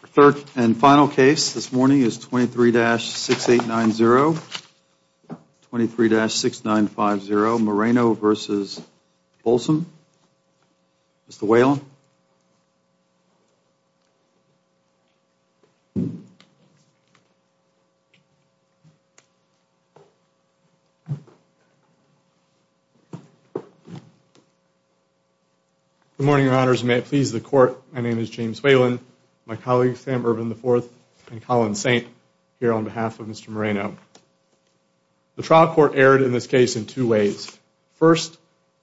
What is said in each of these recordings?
The third and final case this morning is 23-6890, 23-6950 Moreno v. Bosholm. Mr. Whalen. Good morning, Your Honors. May it please the Court, my name is James Whalen, my colleagues Sam Bourbon IV and Colin Saint here on behalf of Mr. Moreno. The trial court erred in this case in two ways. First,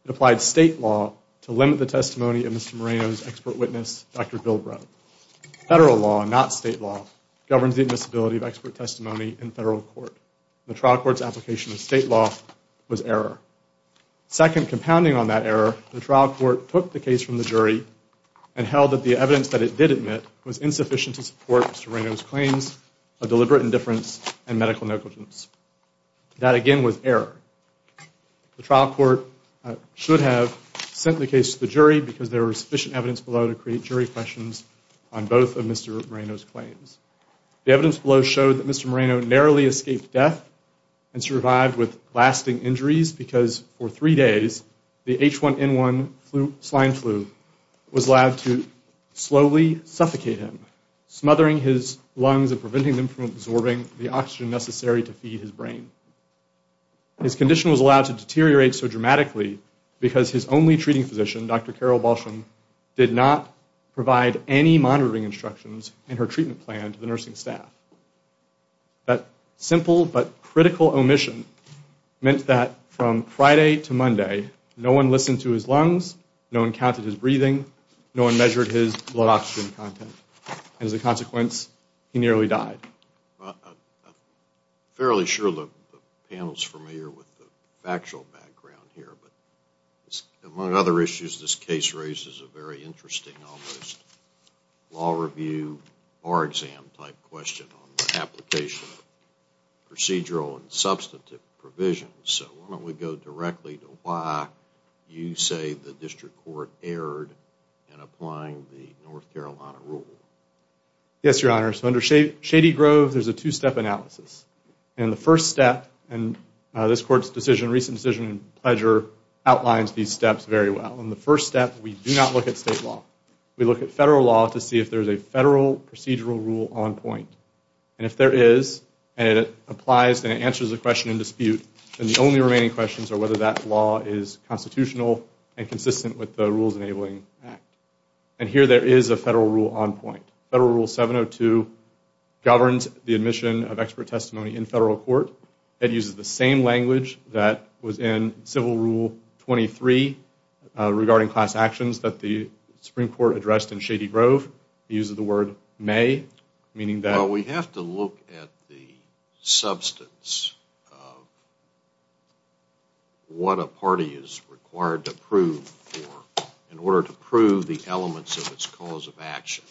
it applied state law to limit the testimony of Mr. Moreno's Dr. Bill Brett. Federal law, not state law, governs the admissibility of expert testimony in federal court. The trial court's application of state law was error. Second, compounding on that error, the trial court took the case from the jury and held that the evidence that it did admit was insufficient to support Mr. Moreno's claims of deliberate indifference and medical negligence. That again was error. The trial court should have sent the case to the jury because there was sufficient evidence below to create jury questions on both of Mr. Moreno's claims. The evidence below showed that Mr. Moreno narrowly escaped death and survived with lasting injuries because for three days the H1N1 slime flu was allowed to slowly suffocate him, smothering his lungs and preventing them from absorbing the oxygen necessary to feed his brain. His condition was allowed to deteriorate so dramatically because his only treating physician, Dr. Carol Balsham, did not provide any monitoring instructions in her treatment plan to the nursing staff. That simple but critical omission meant that from Friday to Monday no one listened to his lungs, no one counted his breathing, no one measured his blood oxygen content, and as a consequence he nearly died. I'm fairly sure the panel is familiar with the factual background here, but among other issues this case raises a very interesting almost law review bar exam type question on the application of procedural and substantive provisions. So why don't we go directly to why you say the district court erred in applying the North Carolina rule? Yes, Your Honor. So under Shady Grove there's a two-step analysis. And the first step, and this court's decision, recent decision and pleasure, outlines these steps very well. In the first step we do not look at state law. We look at federal law to see if there's a federal procedural rule on point. And if there is, and it applies and it answers the question in dispute, then the only remaining questions are whether that law is constitutional and consistent with the Rules Enabling Act. And here there is a federal rule on point. Federal Rule 702 governs the admission of expert testimony in federal court. It uses the same language that was in Civil Rule 23 regarding class actions that the Supreme Court addressed in Shady Grove. It uses the word may, meaning that... So we have to look at the substance of what a party is required to prove for in order to prove the elements of its cause of action.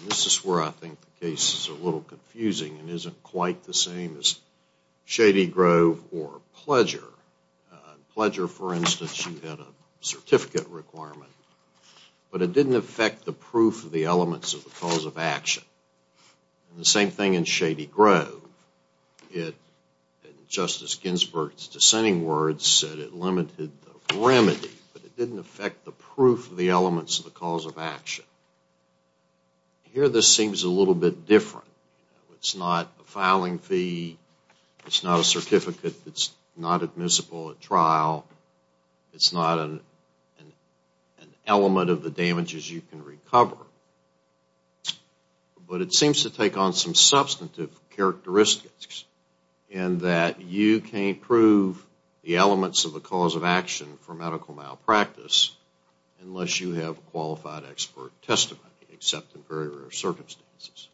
And this is where I think the case is a little confusing and isn't quite the same as Shady Grove or Pleasure. Pleasure, for instance, you had a certificate requirement, but it didn't affect the proof of the elements of the cause of action. The same thing in Shady Grove. Justice Ginsburg's dissenting words said it limited the remedy, but it didn't affect the proof of the elements of the cause of action. Here this seems a little bit different. It's not a filing fee. It's not a certificate that's not admissible at trial. It's not an element of the damages you can recover. But it seems to take on some substantive characteristics in that you can't prove the elements of the cause of action for medical malpractice unless you have qualified expert testimony, except in very rare circumstances.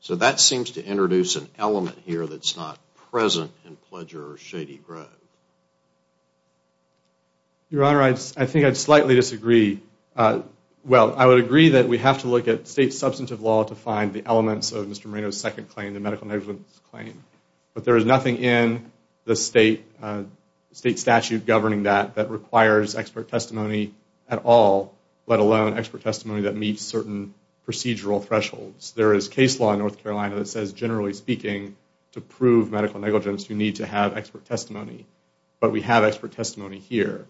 So that seems to introduce an element here that's not present in Pleasure or Shady Grove. Your Honor, I think I'd slightly disagree. Well, I would agree that we have to look at state substantive law to find the elements of Mr. Moreno's second claim, the medical negligence claim. But there is nothing in the state statute governing that that requires expert testimony at all, let alone expert testimony that meets certain procedural thresholds. There is case law in North Carolina that says, generally speaking, to prove medical negligence you need to have expert testimony. But we have expert testimony here.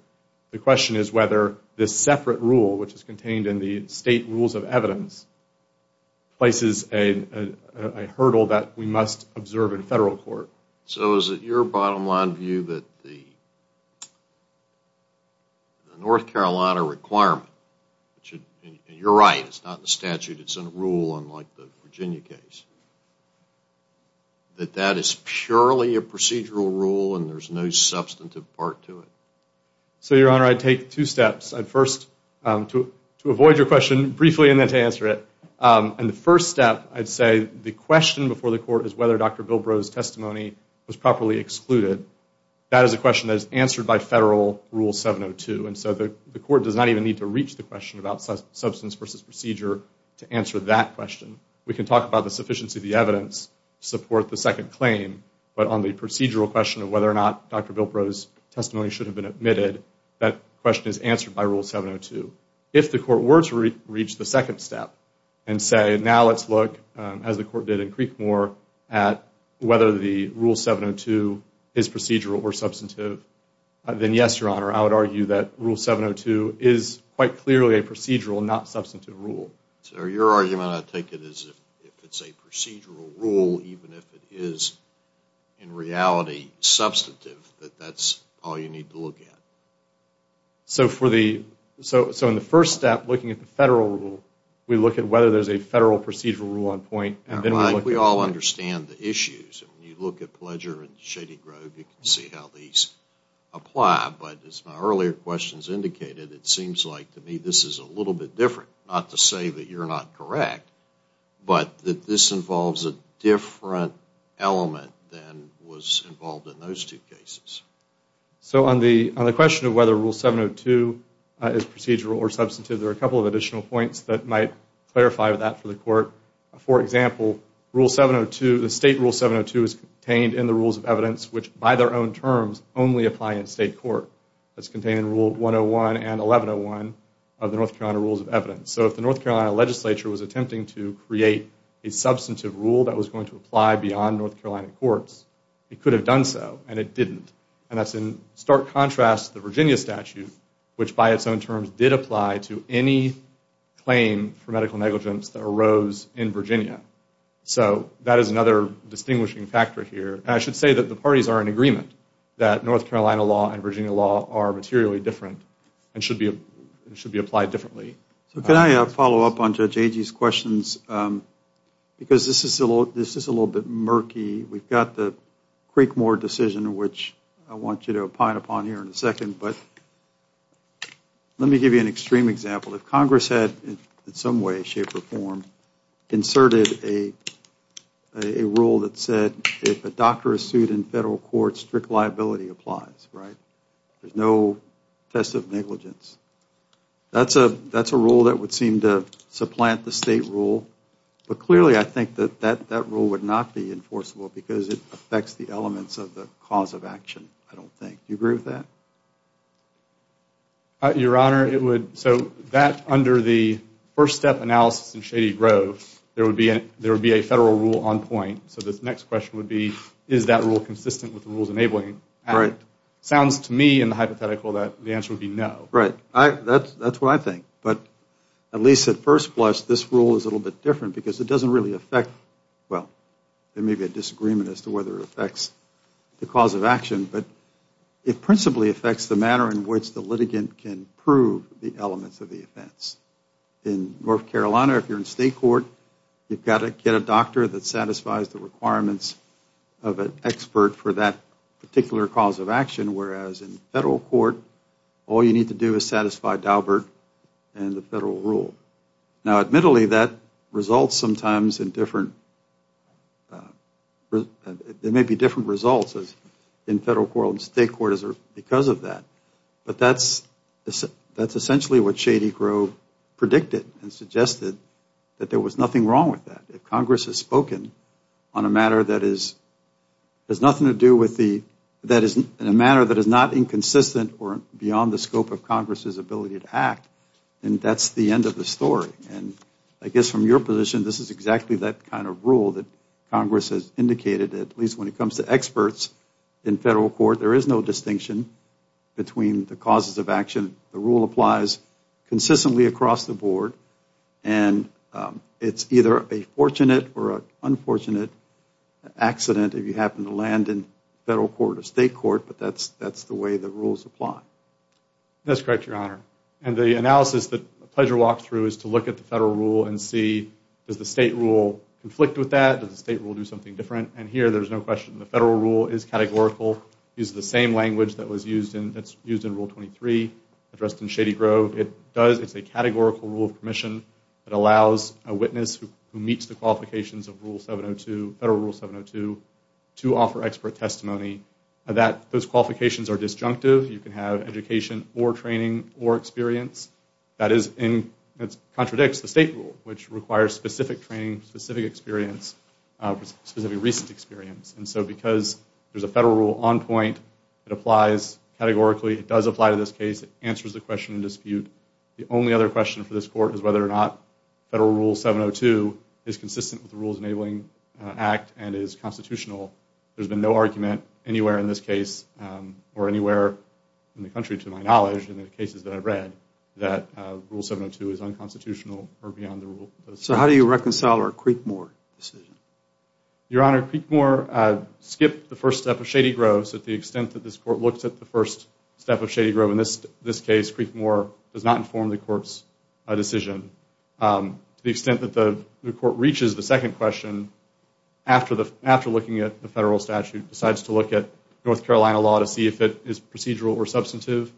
The question is whether this separate rule, which is contained in the state rules of evidence, places a hurdle that we must observe in federal court. So is it your bottom line view that the North Carolina requirement, and you're right, it's not in the statute, it's in a rule unlike the Virginia case, that that is purely a procedural rule and there's no substantive part to it? So, Your Honor, I'd take two steps. I'd first, to avoid your question, briefly and then to answer it. And the first step, I'd say the question before the court is whether Dr. Bilbrow's testimony was properly excluded. That is a question that is answered by federal Rule 702. And so the court does not even need to reach the question about substance versus procedure to answer that question. We can talk about the sufficiency of the evidence to support the second claim, but on the procedural question of whether or not Dr. Bilbrow's testimony should have been admitted, that question is answered by Rule 702. If the court were to reach the second step and say, now let's look, as the court did in Creekmore, at whether the Rule 702 is procedural or substantive, then yes, Your Honor, I would argue that Rule 702 is quite clearly a procedural, not substantive, rule. So, Your Argument, I take it, is if it's a procedural rule, even if it is in reality substantive, that that's all you need to look at? So, in the first step, looking at the federal rule, we look at whether there's a federal procedural rule on point. We all understand the issues. When you look at Pledger and Shady Grove, you can see how these apply, but as my earlier questions indicated, it seems like to me this is a little bit different. Not to say that you're not correct, but that this involves a different element than was involved in those two cases. So, on the question of whether Rule 702 is procedural or substantive, there are a couple of additional points that might clarify that for the court. For example, Rule 702, the State Rule 702 is contained in the Rules of Evidence, which by their own terms only apply in state court. It's contained in Rule 101 and 1101 of the North Carolina Rules of Evidence. So, if the North Carolina legislature was attempting to create a substantive rule that was going to apply beyond North Carolina courts, it could have done so, and it didn't. And that's in stark contrast to the Virginia statute, which by its own terms did apply to any claim for medical negligence that arose in Virginia. So, that is another distinguishing factor here. And I should say that the parties are in agreement that North Carolina law and Virginia law are materially different and should be applied differently. So, can I follow up on Judge Agee's questions? Because this is a little bit murky. We've got the Creekmore decision, which I want you to opine upon here in a second. But let me give you an extreme example. If Congress had in some way, shape, or form inserted a rule that said if a doctor is sued in federal court, strict liability applies, right? There's no test of negligence. That's a rule that would seem to supplant the state rule. But clearly I think that that rule would not be enforceable because it affects the elements of the cause of action, I don't think. Do you agree with that? Your Honor, it would, so that under the first step analysis in Shady Grove, there would be a federal rule on point. So, this next question would be is that rule consistent with the rules enabling it? Sounds to me in the hypothetical that the answer would be no. Right. That's what I think. But at least at first blush, this rule is a little bit different because it doesn't really affect, well, there may be a disagreement as to whether it affects the cause of action. But it principally affects the manner in which the litigant can prove the elements of the offense. In North Carolina, if you're in state court, you've got to get a doctor that satisfies the requirements of an expert for that particular cause of action, whereas in federal court, all you need to do is satisfy Daubert and the federal rule. Now, admittedly, that results sometimes in different, there may be different results in federal court and state court because of that. But that's essentially what Shady Grove predicted and suggested, that there was nothing wrong with that. If Congress has spoken on a matter that is, has nothing to do with the, that is a matter that is not inconsistent or beyond the scope of Congress's ability to act, then that's the end of the story. And I guess from your position, this is exactly that kind of rule that Congress has indicated, at least when it comes to experts in federal court. There is no distinction between the causes of action. The rule applies consistently across the board. And it's either a fortunate or an unfortunate accident if you happen to land in federal court or state court, but that's the way the rules apply. That's correct, Your Honor. And the analysis that pleasure walks through is to look at the federal rule and see, does the state rule conflict with that? Does the state rule do something different? And here, there's no question. The federal rule is categorical, uses the same language that was used in, that's used in Rule 23, addressed in Shady Grove. It does, it's a categorical rule of permission. It allows a witness who meets the qualifications of Rule 702, Federal Rule 702, to offer expert testimony. Those qualifications are disjunctive. You can have education or training or experience. That is, it contradicts the state rule, which requires specific training, specific experience, specific recent experience. And so because there's a federal rule on point, it applies categorically. It does apply to this case. It answers the question in dispute. The only other question for this court is whether or not Federal Rule 702 is consistent with the Rules Enabling Act and is constitutional. There's been no argument anywhere in this case or anywhere in the country, to my knowledge, in the cases that I've read, that Rule 702 is unconstitutional or beyond the rule. So how do you reconcile our Creekmore decision? Your Honor, Creekmore skipped the first step of Shady Grove. So to the extent that this court looks at the first step of Shady Grove, in this case, Creekmore does not inform the court's decision. To the extent that the court reaches the second question, after looking at the federal statute, decides to look at North Carolina law to see if it is procedural or substantive,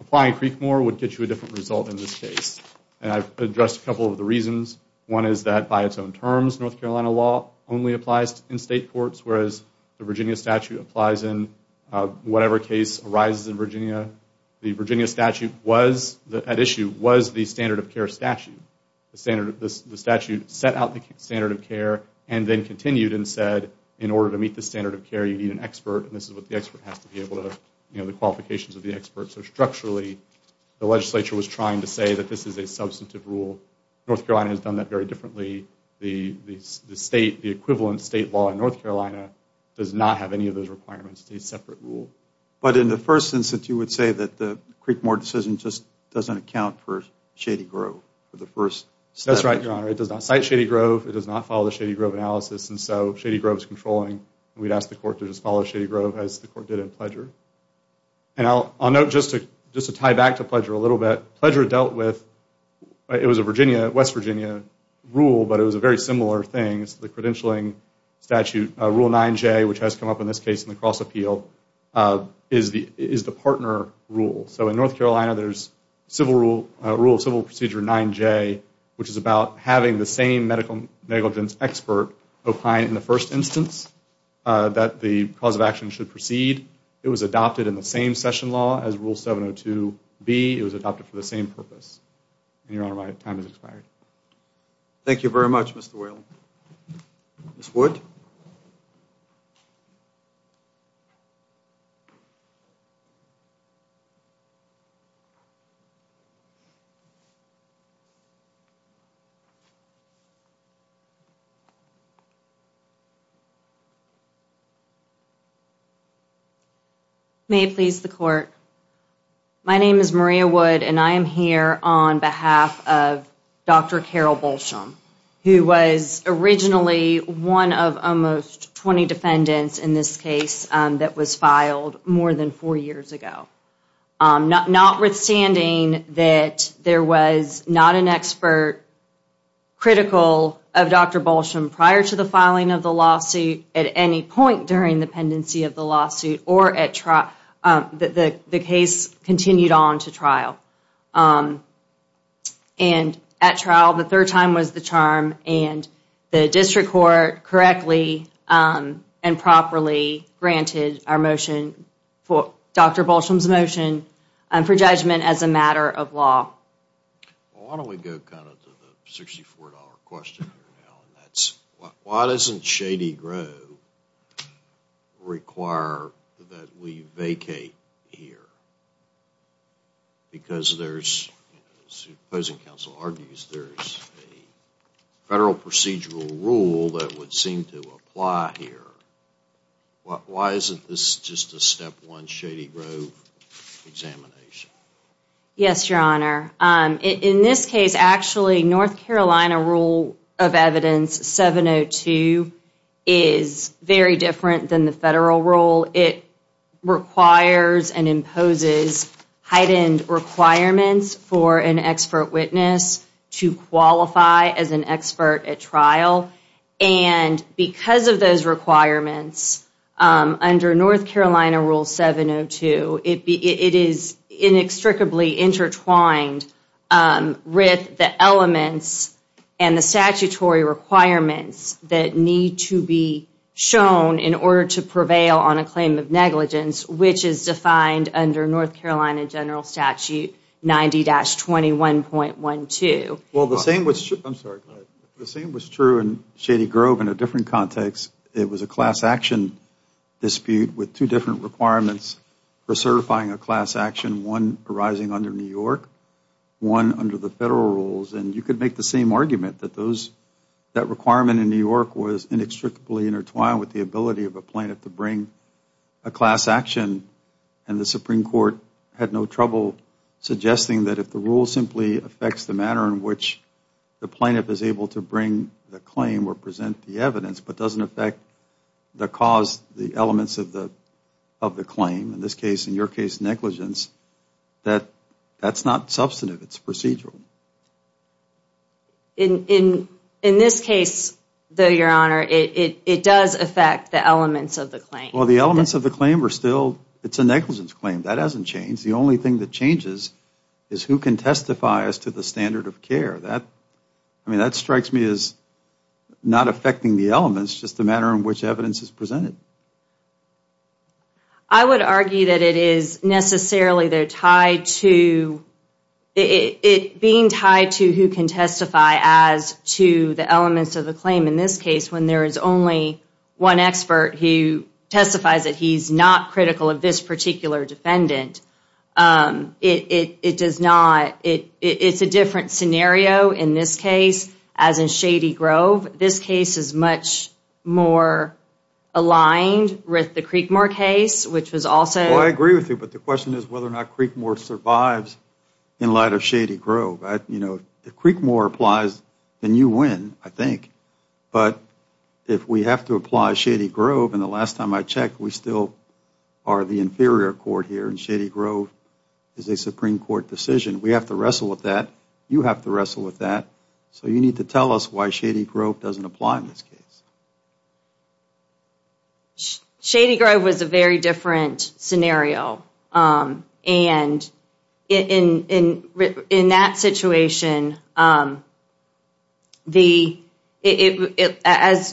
applying Creekmore would get you a different result in this case. And I've addressed a couple of the reasons. One is that by its own terms, North Carolina law only applies in state courts, whereas the Virginia statute applies in whatever case arises in Virginia. The Virginia statute at issue was the standard of care statute. The statute set out the standard of care and then continued and said, in order to meet the standard of care, you need an expert, and this is what the expert has to be able to, you know, the qualifications of the expert. So structurally, the legislature was trying to say that this is a substantive rule. North Carolina has done that very differently. The state, the equivalent state law in North Carolina does not have any of those requirements. It's a separate rule. But in the first instance, you would say that the Creekmore decision just doesn't account for Shady Grove for the first sentence. That's right, Your Honor. It does not cite Shady Grove. It does not follow the Shady Grove analysis, and so Shady Grove is controlling. We'd ask the court to just follow Shady Grove as the court did in Pledger. And I'll note just to tie back to Pledger a little bit, Pledger dealt with, it was a West Virginia rule, but it was a very similar thing. It's the credentialing statute, Rule 9J, which has come up in this case in the cross-appeal, is the partner rule. So in North Carolina, there's a rule, Civil Procedure 9J, which is about having the same medical negligence expert opine in the first instance that the cause of action should proceed. It was adopted in the same session law as Rule 702B. It was adopted for the same purpose. And, Your Honor, my time has expired. Thank you very much, Mr. Whalen. Ms. Wood? May it please the court? My name is Maria Wood, and I am here on behalf of Dr. Carol Bolsham, who was originally one of almost 20 defendants in this case that was filed more than four years ago. And I'm here on behalf of Dr. Carol Bolsham, notwithstanding that there was not an expert critical of Dr. Bolsham prior to the filing of the lawsuit, at any point during the pendency of the lawsuit, or the case continued on to trial. And at trial, the third time was the charm, and the district court correctly and properly granted our motion, Dr. Bolsham's motion, for judgment as a matter of law. Why don't we go kind of to the $64 question here now, and that's why doesn't Shady Grove require that we vacate here? Because there's, as the opposing counsel argues, there's a federal procedural rule that would seem to apply here. Why isn't this just a step one Shady Grove examination? Yes, Your Honor. In this case, actually, North Carolina rule of evidence 702 is very different than the federal rule. It requires and imposes heightened requirements for an expert witness to qualify as an expert at trial. And because of those requirements, under North Carolina rule 702, it is inextricably intertwined with the elements and the statutory requirements that need to be shown in order to prevail on a claim of negligence, which is defined under North Carolina general statute 90-21.12. Well, the same was true in Shady Grove in a different context. It was a class action dispute with two different requirements for certifying a class action, one arising under New York, one under the federal rules, and you could make the same argument that that requirement in New York was inextricably intertwined with the ability of a plaintiff to bring a class action, and the Supreme Court had no trouble suggesting that if the rule simply affects the manner in which the plaintiff is able to bring the claim or present the evidence but doesn't affect the cause, the elements of the claim, in this case, in your case, negligence, that that's not substantive. It's procedural. In this case, though, Your Honor, it does affect the elements of the claim. Well, the elements of the claim are still, it's a negligence claim. That hasn't changed. The only thing that changes is who can testify as to the standard of care. I mean, that strikes me as not affecting the elements, just the manner in which evidence is presented. I would argue that it is necessarily tied to it being tied to who can testify as to the elements of the claim in this case when there is only one expert who testifies that he's not critical of this particular defendant. It does not, it's a different scenario in this case as in Shady Grove. This case is much more aligned with the Creekmore case, which was also. Well, I agree with you, but the question is whether or not Creekmore survives in light of Shady Grove. You know, if Creekmore applies, then you win, I think. But if we have to apply Shady Grove, and the last time I checked, we still are the inferior court here, and Shady Grove is a Supreme Court decision. We have to wrestle with that. You have to wrestle with that. So you need to tell us why Shady Grove doesn't apply in this case. Shady Grove was a very different scenario. And in that situation, as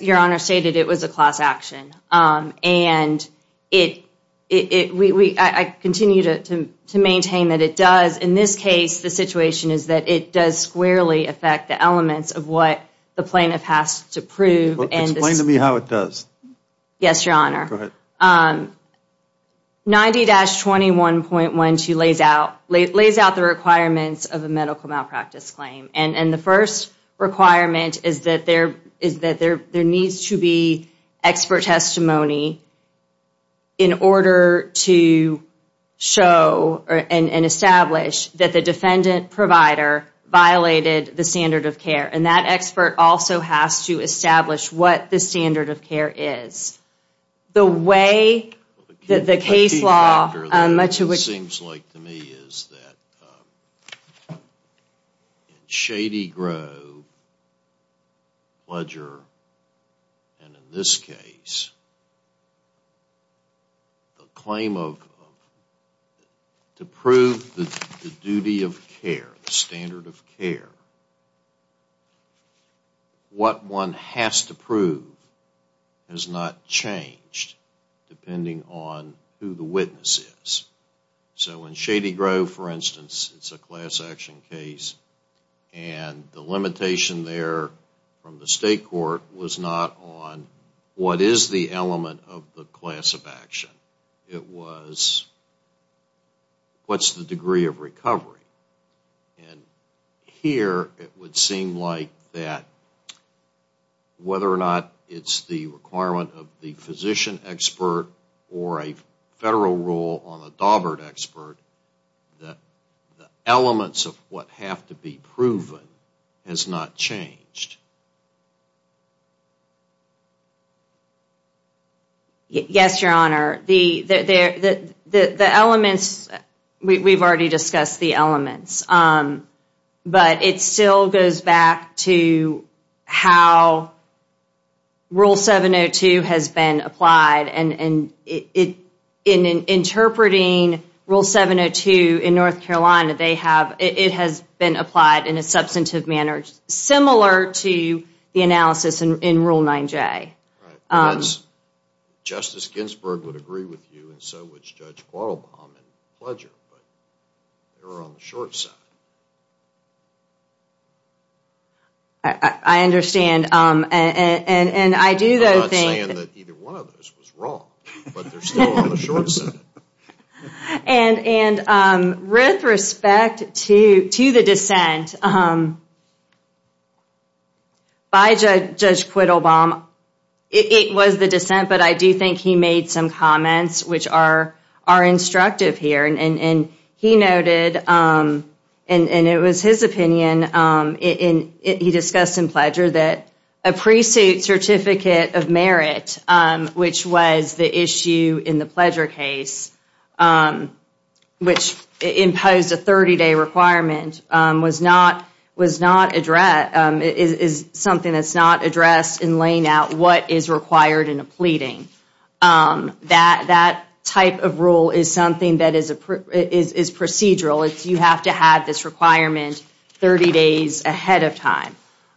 Your Honor stated, it was a class action. And I continue to maintain that it does. In this case, the situation is that it does squarely affect the elements of what the plaintiff has to prove. Explain to me how it does. Yes, Your Honor. Go ahead. 90-21.12 lays out the requirements of a medical malpractice claim. And the first requirement is that there needs to be expert testimony in order to show and establish that the defendant provider violated the standard of care. And that expert also has to establish what the standard of care is. The way that the case law... What it seems like to me is that in Shady Grove, Bludger, and in this case, the claim of to prove the duty of care, the standard of care, what one has to prove has not changed depending on who the witness is. So in Shady Grove, for instance, it's a class action case. And the limitation there from the state court was not on what is the element of the class of action. It was what's the degree of recovery. And here, it would seem like that whether or not it's the requirement of the physician expert or a federal rule on the Daubert expert, the elements of what have to be proven has not changed. Yes, Your Honor. The elements, we've already discussed the elements. But it still goes back to how Rule 702 has been applied. And in interpreting Rule 702 in North Carolina, it has been applied in a substantive manner similar to the analysis in Rule 9J. Justice Ginsburg would agree with you, and so would Judge Quattlebaum and Bludger, but they were on the short side. I understand. I'm not saying that either one of those was wrong, but they're still on the short side. And with respect to the dissent by Judge Quattlebaum, it was the dissent, but I do think he made some comments which are instructive here. And he noted, and it was his opinion, he discussed in Bludger that a pre-suit certificate of merit, which was the issue in the Bludger case, which imposed a 30-day requirement, is something that's not addressed in laying out what is required in a pleading. That type of rule is something that is procedural. You have to have this requirement 30 days ahead of time.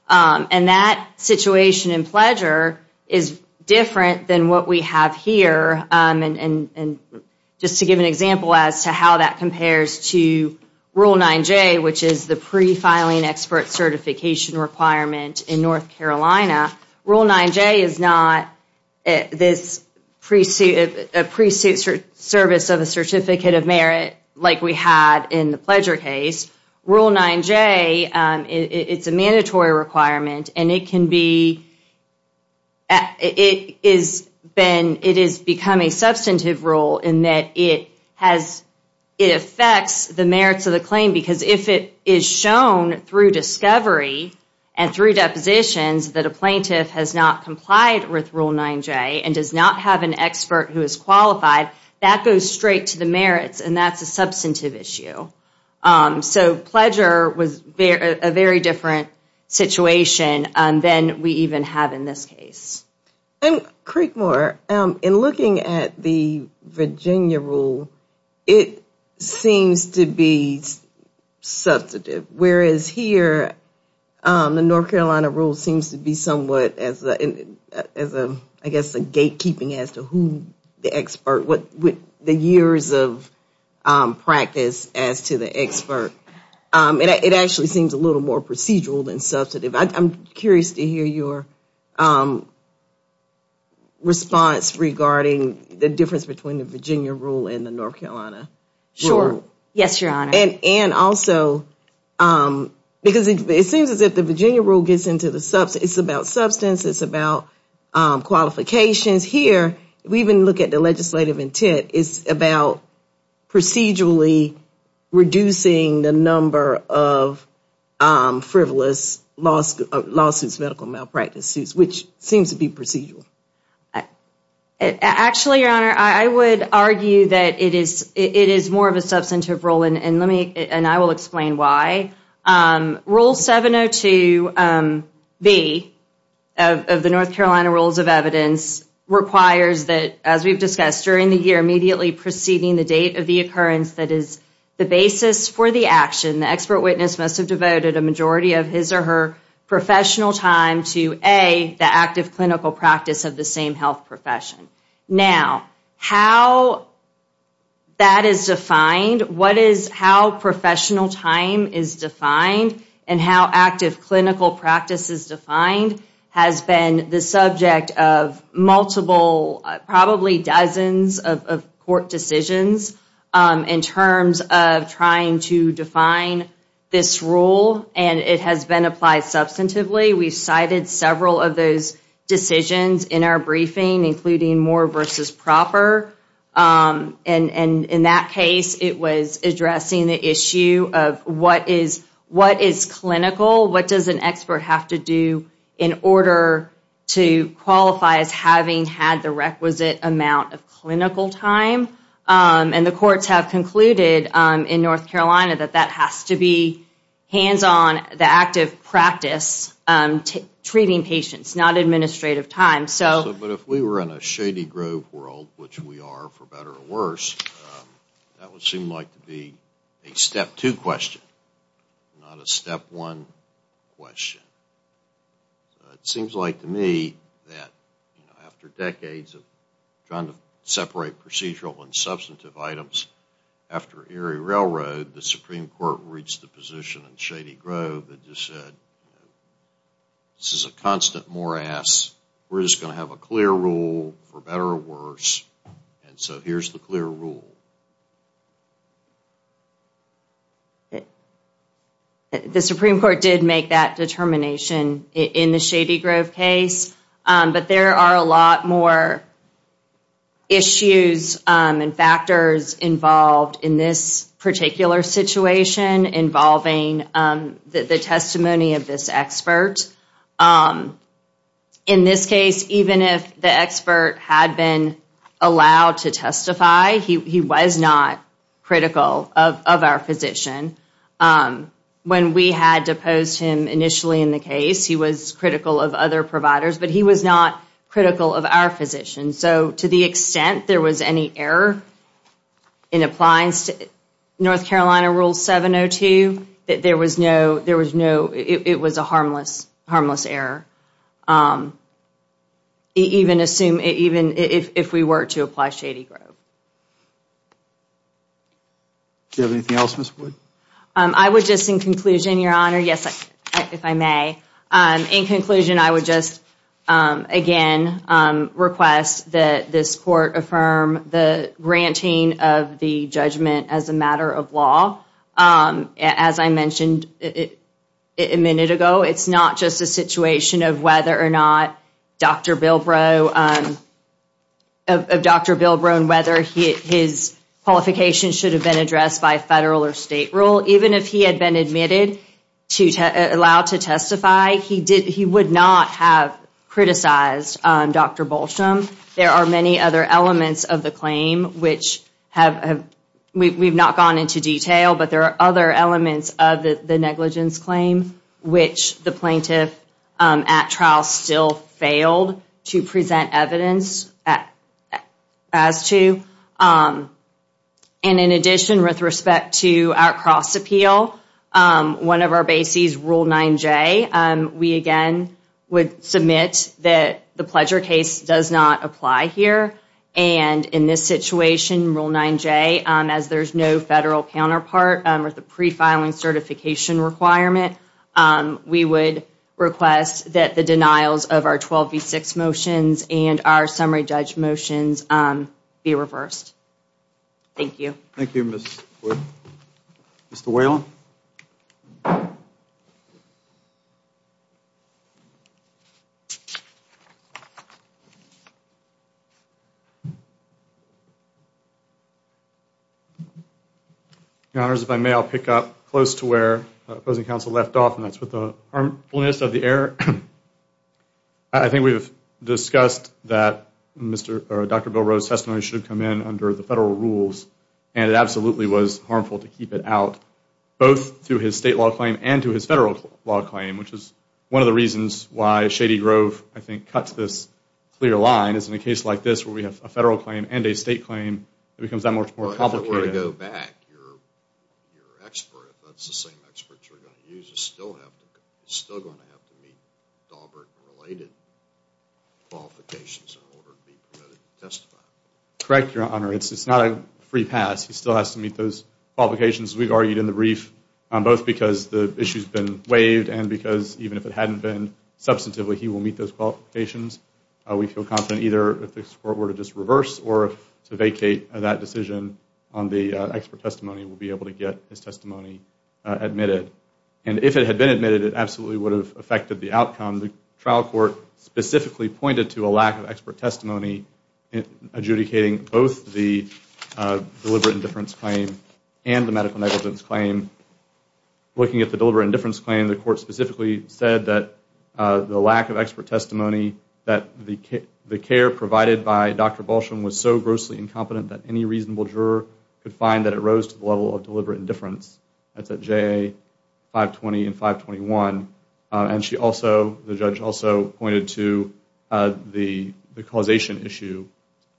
And that situation in Bludger is different than what we have here. And just to give an example as to how that compares to Rule 9J, which is the pre-filing expert certification requirement in North Carolina, Rule 9J is not a pre-suit service of a certificate of merit like we had in the Bludger case. Rule 9J, it's a mandatory requirement, and it has become a substantive rule in that it affects the merits of the claim because if it is shown through discovery and through depositions that a plaintiff has not complied with Rule 9J and does not have an expert who is qualified, that goes straight to the merits, and that's a substantive issue. So Bludger was a very different situation than we even have in this case. And Creekmore, in looking at the Virginia rule, it seems to be substantive, whereas here the North Carolina rule seems to be somewhat as, I guess, a gatekeeping as to who the expert, the years of practice as to the expert. It actually seems a little more procedural than substantive. I'm curious to hear your response regarding the difference between the Virginia rule and the North Carolina rule. Sure. Yes, Your Honor. And also because it seems as if the Virginia rule gets into the substance. It's about substance. It's about qualifications. Here, if we even look at the legislative intent, it's about procedurally reducing the number of frivolous lawsuits, medical malpractice suits, which seems to be procedural. Actually, Your Honor, I would argue that it is more of a substantive rule, and I will explain why. Rule 702B of the North Carolina Rules of Evidence requires that, as we've discussed, during the year immediately preceding the date of the occurrence that is the basis for the action, the expert witness must have devoted a majority of his or her professional time to, A, the active clinical practice of the same health profession. Now, how that is defined, what is how professional time is defined, and how active clinical practice is defined has been the subject of multiple, probably dozens of court decisions in terms of trying to define this rule, and it has been applied substantively. We've cited several of those decisions in our briefing, including more versus proper, and in that case, it was addressing the issue of what is clinical, what does an expert have to do in order to qualify as having had the requisite amount of clinical time, and the courts have concluded in North Carolina that that has to be treating patients, not administrative time. But if we were in a Shady Grove world, which we are, for better or worse, that would seem like to be a step two question, not a step one question. It seems like to me that after decades of trying to separate procedural and substantive items, after Erie Railroad, the Supreme Court reached the position in Shady Grove that just said, this is a constant morass, we're just going to have a clear rule for better or worse, and so here's the clear rule. The Supreme Court did make that determination in the Shady Grove case, but there are a lot more issues and factors involved in this particular situation involving the testimony of this expert. In this case, even if the expert had been allowed to testify, he was not critical of our physician. When we had deposed him initially in the case, he was critical of other providers, but he was not critical of our physician. So to the extent there was any error in applying North Carolina Rule 702, it was a harmless error, even if we were to apply Shady Grove. Do you have anything else, Ms. Wood? I would just, in conclusion, Your Honor, yes, if I may, in conclusion, I would just again request that this court affirm the granting of the judgment as a matter of law. As I mentioned a minute ago, it's not just a situation of whether or not Dr. Bilbrow, of Dr. Bilbrow and whether his qualifications should have been addressed by federal or state rule, even if he had been admitted to allow to testify, he would not have criticized Dr. Bolsham. There are many other elements of the claim which have, we've not gone into detail, but there are other elements of the negligence claim which the plaintiff at trial still failed to present evidence as to. And in addition, with respect to our cross appeal, one of our bases, Rule 9J, we again would submit that the pleasure case does not apply here. And in this situation, Rule 9J, as there's no federal counterpart with the prefiling certification requirement, we would request that the denials of our 12V6 motions and our summary judge motions be reversed. Thank you. Thank you, Ms. Wood. Mr. Whalen? Your Honors, if I may, I'll pick up close to where the opposing counsel left off, and that's with the harmfulness of the error. I think we've discussed that Dr. Bilbrow's testimony should have come in under the federal rules, and it absolutely was harmful to keep it out, both to his state law claim and to his federal law claim, which is one of the reasons why Shady Grove, I think, cuts this clear line, is in a case like this where we have a federal claim and a state claim, it becomes that much more complicated. Your expert, if that's the same expert you're going to use, is still going to have to meet Dahlberg-related qualifications in order to be permitted to testify. Correct, Your Honor. It's not a free pass. He still has to meet those qualifications. We've argued in the brief both because the issue's been waived and because even if it hadn't been substantively, he will meet those qualifications. We feel confident either if the court were to just reverse or to vacate that decision on the expert testimony, we'll be able to get his testimony admitted. And if it had been admitted, it absolutely would have affected the outcome. The trial court specifically pointed to a lack of expert testimony adjudicating both the deliberate indifference claim and the medical negligence claim. Looking at the deliberate indifference claim, the court specifically said that the lack of expert testimony, that the care provided by Dr. Balsham was so grossly incompetent that any reasonable juror could find that it rose to the level of deliberate indifference. That's at JA 520 and 521. And the judge also pointed to the causation issue,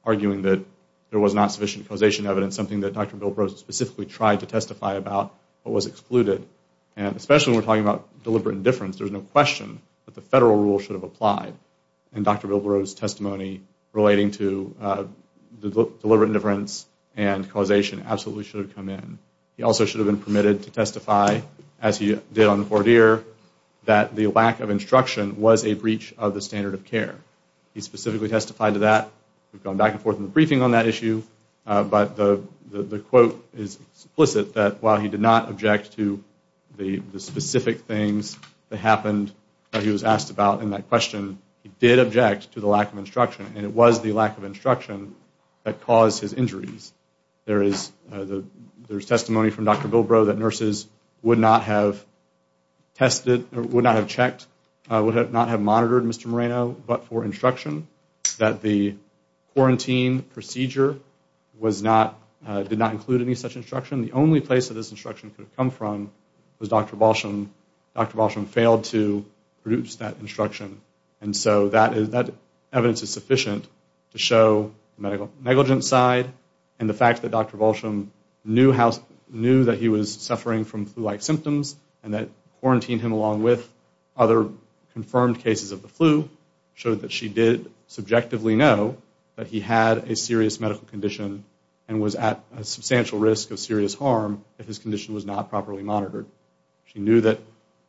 arguing that there was not sufficient causation evidence, something that Dr. Bilbrow specifically tried to testify about but was excluded. And especially when we're talking about deliberate indifference, there's no question that the federal rule should have applied. And Dr. Bilbrow's testimony relating to deliberate indifference and causation absolutely should have come in. He also should have been permitted to testify, as he did on the court here, that the lack of instruction was a breach of the standard of care. He specifically testified to that. We've gone back and forth in the briefing on that issue, but the quote is explicit that while he did not object to the specific things that happened that he was asked about in that question, he did object to the lack of instruction, and it was the lack of instruction that caused his injuries. There is testimony from Dr. Bilbrow that nurses would not have tested or would not have checked, would not have monitored Mr. Moreno, but for instruction, that the quarantine procedure was not, did not include any such instruction. The only place that this instruction could have come from was Dr. Balsham. Dr. Balsham failed to produce that instruction. And so that evidence is sufficient to show the medical negligence side and the fact that Dr. Balsham knew that he was suffering from flu-like symptoms and that quarantine him along with other confirmed cases of the flu showed that she did subjectively know that he had a serious medical condition and was at a substantial risk of serious harm if his condition was not properly monitored. She knew that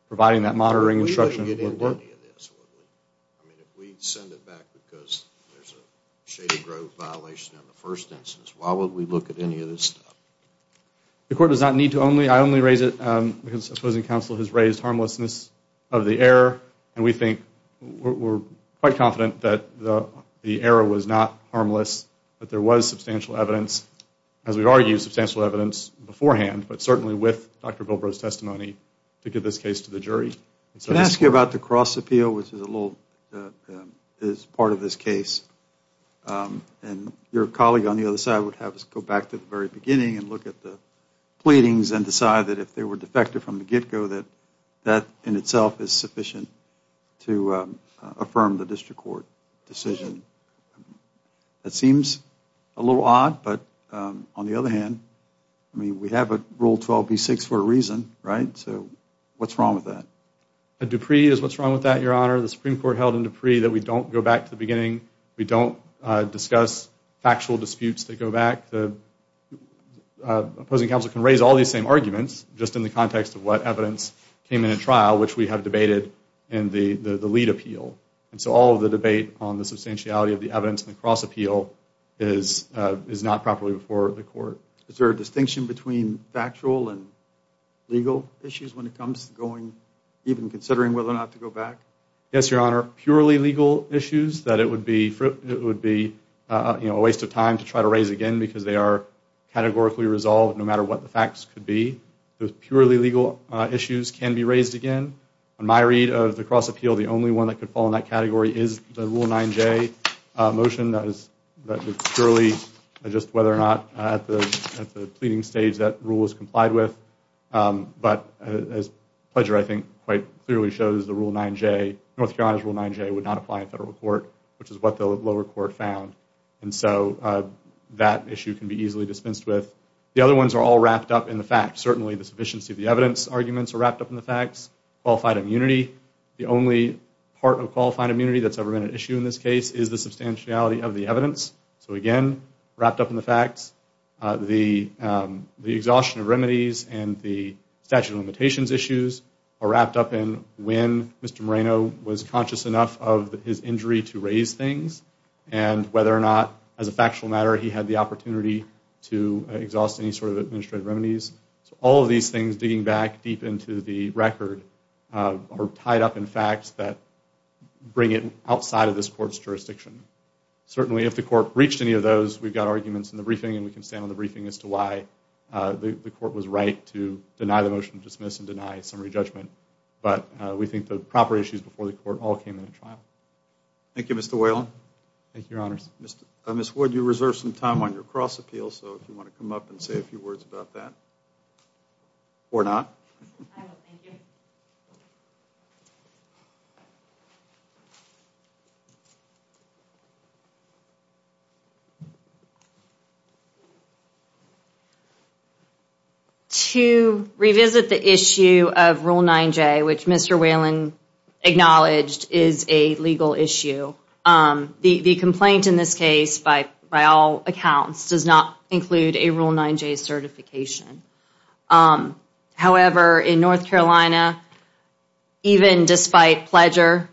providing that monitoring instruction would work. If we send it back because there's a Shady Grove violation in the first instance, why would we look at any of this stuff? The court does not need to only, I only raise it because opposing counsel has raised harmlessness of the error, and we think, we're quite confident that the error was not harmless, that there was substantial evidence, as we've argued, substantial evidence beforehand, but certainly with Dr. Bilbrow's testimony to give this case to the jury. Can I ask you about the cross-appeal, which is a little, is part of this case? And your colleague on the other side would have us go back to the very beginning and look at the pleadings and decide that if they were defective from the get-go that that in itself is sufficient to affirm the district court decision. That seems a little odd, but on the other hand, I mean, we have a Rule 12b-6 for a reason, right? So what's wrong with that? A Dupree is what's wrong with that, Your Honor. The Supreme Court held in Dupree that we don't go back to the beginning. We don't discuss factual disputes that go back. Opposing counsel can raise all these same arguments just in the context of what evidence came in a trial, which we have debated in the lead appeal. And so all of the debate on the substantiality of the evidence in the cross-appeal is not properly before the court. Is there a distinction between factual and legal issues when it comes to going, even considering whether or not to go back? Yes, Your Honor. Purely legal issues that it would be a waste of time to try to raise again because they are categorically resolved no matter what the facts could be. Those purely legal issues can be raised again. On my read of the cross-appeal, the only one that could fall in that category is the Rule 9j motion that is purely just whether or not at the pleading stage that rule is complied with. But as Pledger, I think, quite clearly shows, the Rule 9j, North Carolina's Rule 9j would not apply in federal court, which is what the lower court found. And so that issue can be easily dispensed with. The other ones are all wrapped up in the facts. Certainly the sufficiency of the evidence arguments are wrapped up in the facts. Qualified immunity. The only part of qualified immunity that's ever been an issue in this case is the substantiality of the evidence. So again, wrapped up in the facts. The exhaustion of remedies and the statute of limitations issues are wrapped up in when Mr. Moreno was conscious enough of his injury to raise things and whether or not, as a factual matter, he had the opportunity to exhaust any sort of administrative remedies. So all of these things, digging back deep into the record, are tied up in facts that bring it outside of this court's jurisdiction. Certainly if the court breached any of those, we've got arguments in the briefing and we can stand on the briefing as to why the court was right to deny the motion to dismiss and deny summary judgment. But we think the proper issues before the court all came in at trial. Thank you, Mr. Whalen. Thank you, Your Honors. Ms. Wood, you reserved some time on your cross appeal, so if you want to come up and say a few words about that. Or not. I will. Thank you. To revisit the issue of Rule 9J, which Mr. Whalen acknowledged is a legal issue, the complaint in this case, by all accounts, does not include a Rule 9J certification. However, in North Carolina, even despite Pledger,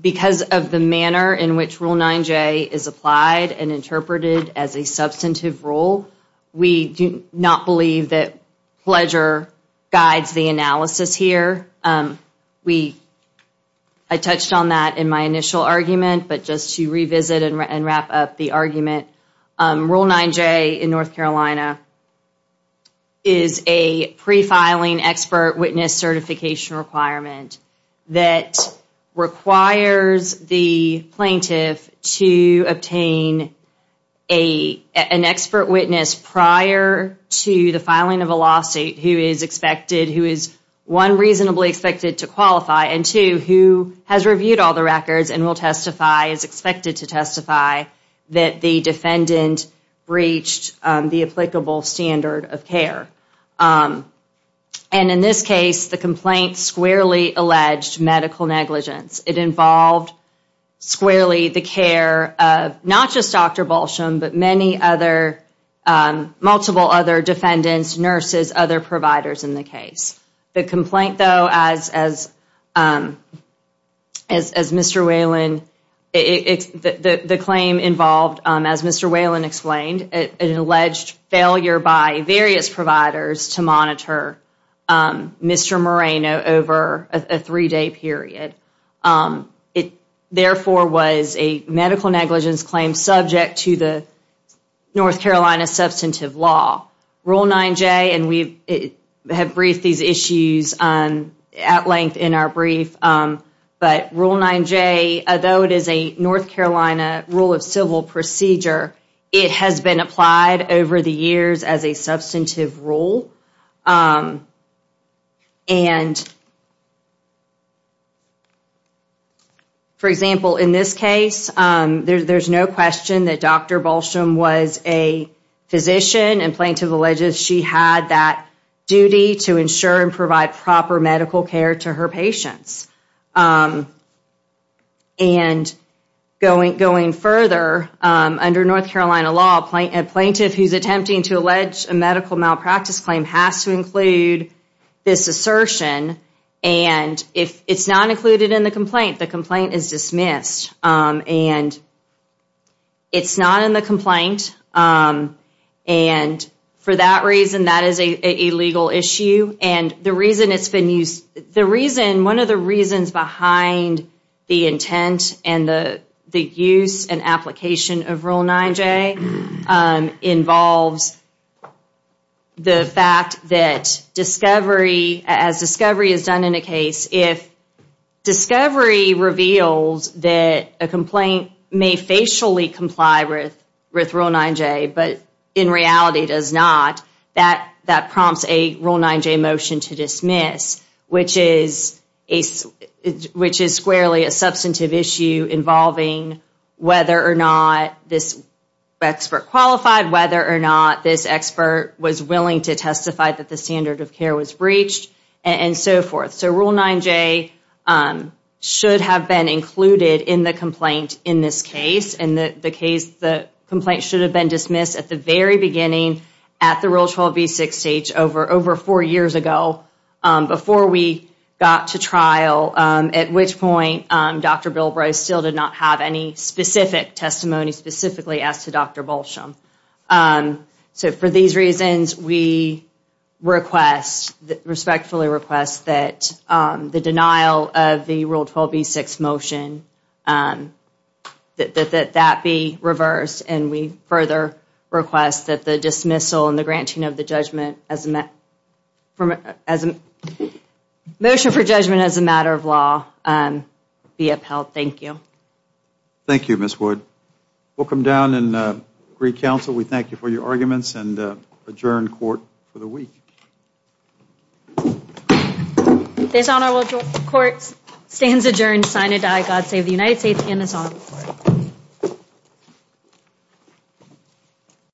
because of the manner in which Rule 9J is applied and interpreted as a substantive rule, we do not believe that Pledger guides the analysis here. I touched on that in my initial argument, but just to revisit and wrap up the argument, Rule 9J in North Carolina is a pre-filing expert witness certification requirement that requires the plaintiff to obtain an expert witness prior to the filing of a lawsuit who is one, reasonably expected to qualify, and two, who has reviewed all the records and is expected to testify that the defendant breached the applicable standard of care. And in this case, the complaint squarely alleged medical negligence. It involved squarely the care of not just Dr. Balsham, but multiple other defendants, nurses, other providers in the case. The complaint, though, as Mr. Whalen explained, an alleged failure by various providers to monitor Mr. Moreno over a three-day period. It, therefore, was a medical negligence claim subject to the North Carolina substantive law. Rule 9J, and we have briefed these issues at length in our brief, but Rule 9J, though it is a North Carolina rule of civil procedure, it has been applied over the years as a substantive rule. And, for example, in this case, there's no question that Dr. Balsham was a physician and plaintiff alleges she had that duty to ensure and provide proper medical care to her patients. And going further, under North Carolina law, a plaintiff who's attempting to allege a medical malpractice claim has to include this assertion. And if it's not included in the complaint, the complaint is dismissed. And it's not in the complaint, and for that reason, that is an illegal issue. And the reason it's been used, the reason, one of the reasons behind the intent and the use and application of Rule 9J involves the fact that discovery, as discovery is done in a case, if discovery reveals that a complaint may facially comply with Rule 9J, but in reality does not, that prompts a Rule 9J motion to dismiss, which is squarely a substantive issue involving whether or not this expert qualified, whether or not this expert was willing to testify that the standard of care was breached, and so forth. So Rule 9J should have been included in the complaint in this case, and the case, the complaint should have been dismissed at the very beginning at the Rule 12B6 stage over four years ago before we got to trial, at which point Dr. Bilbray still did not have any specific testimony specifically as to Dr. Bolsham. So for these reasons, we request, respectfully request, that the denial of the Rule 12B6 motion, that that be reversed, and we further request that the dismissal and the granting of the judgment as a matter of law be upheld. Thank you. Thank you, Ms. Wood. Welcome down and greet counsel. We thank you for your arguments and adjourn court for the week. This honorable court stands adjourned, sign and die. God save the United States and His Honor.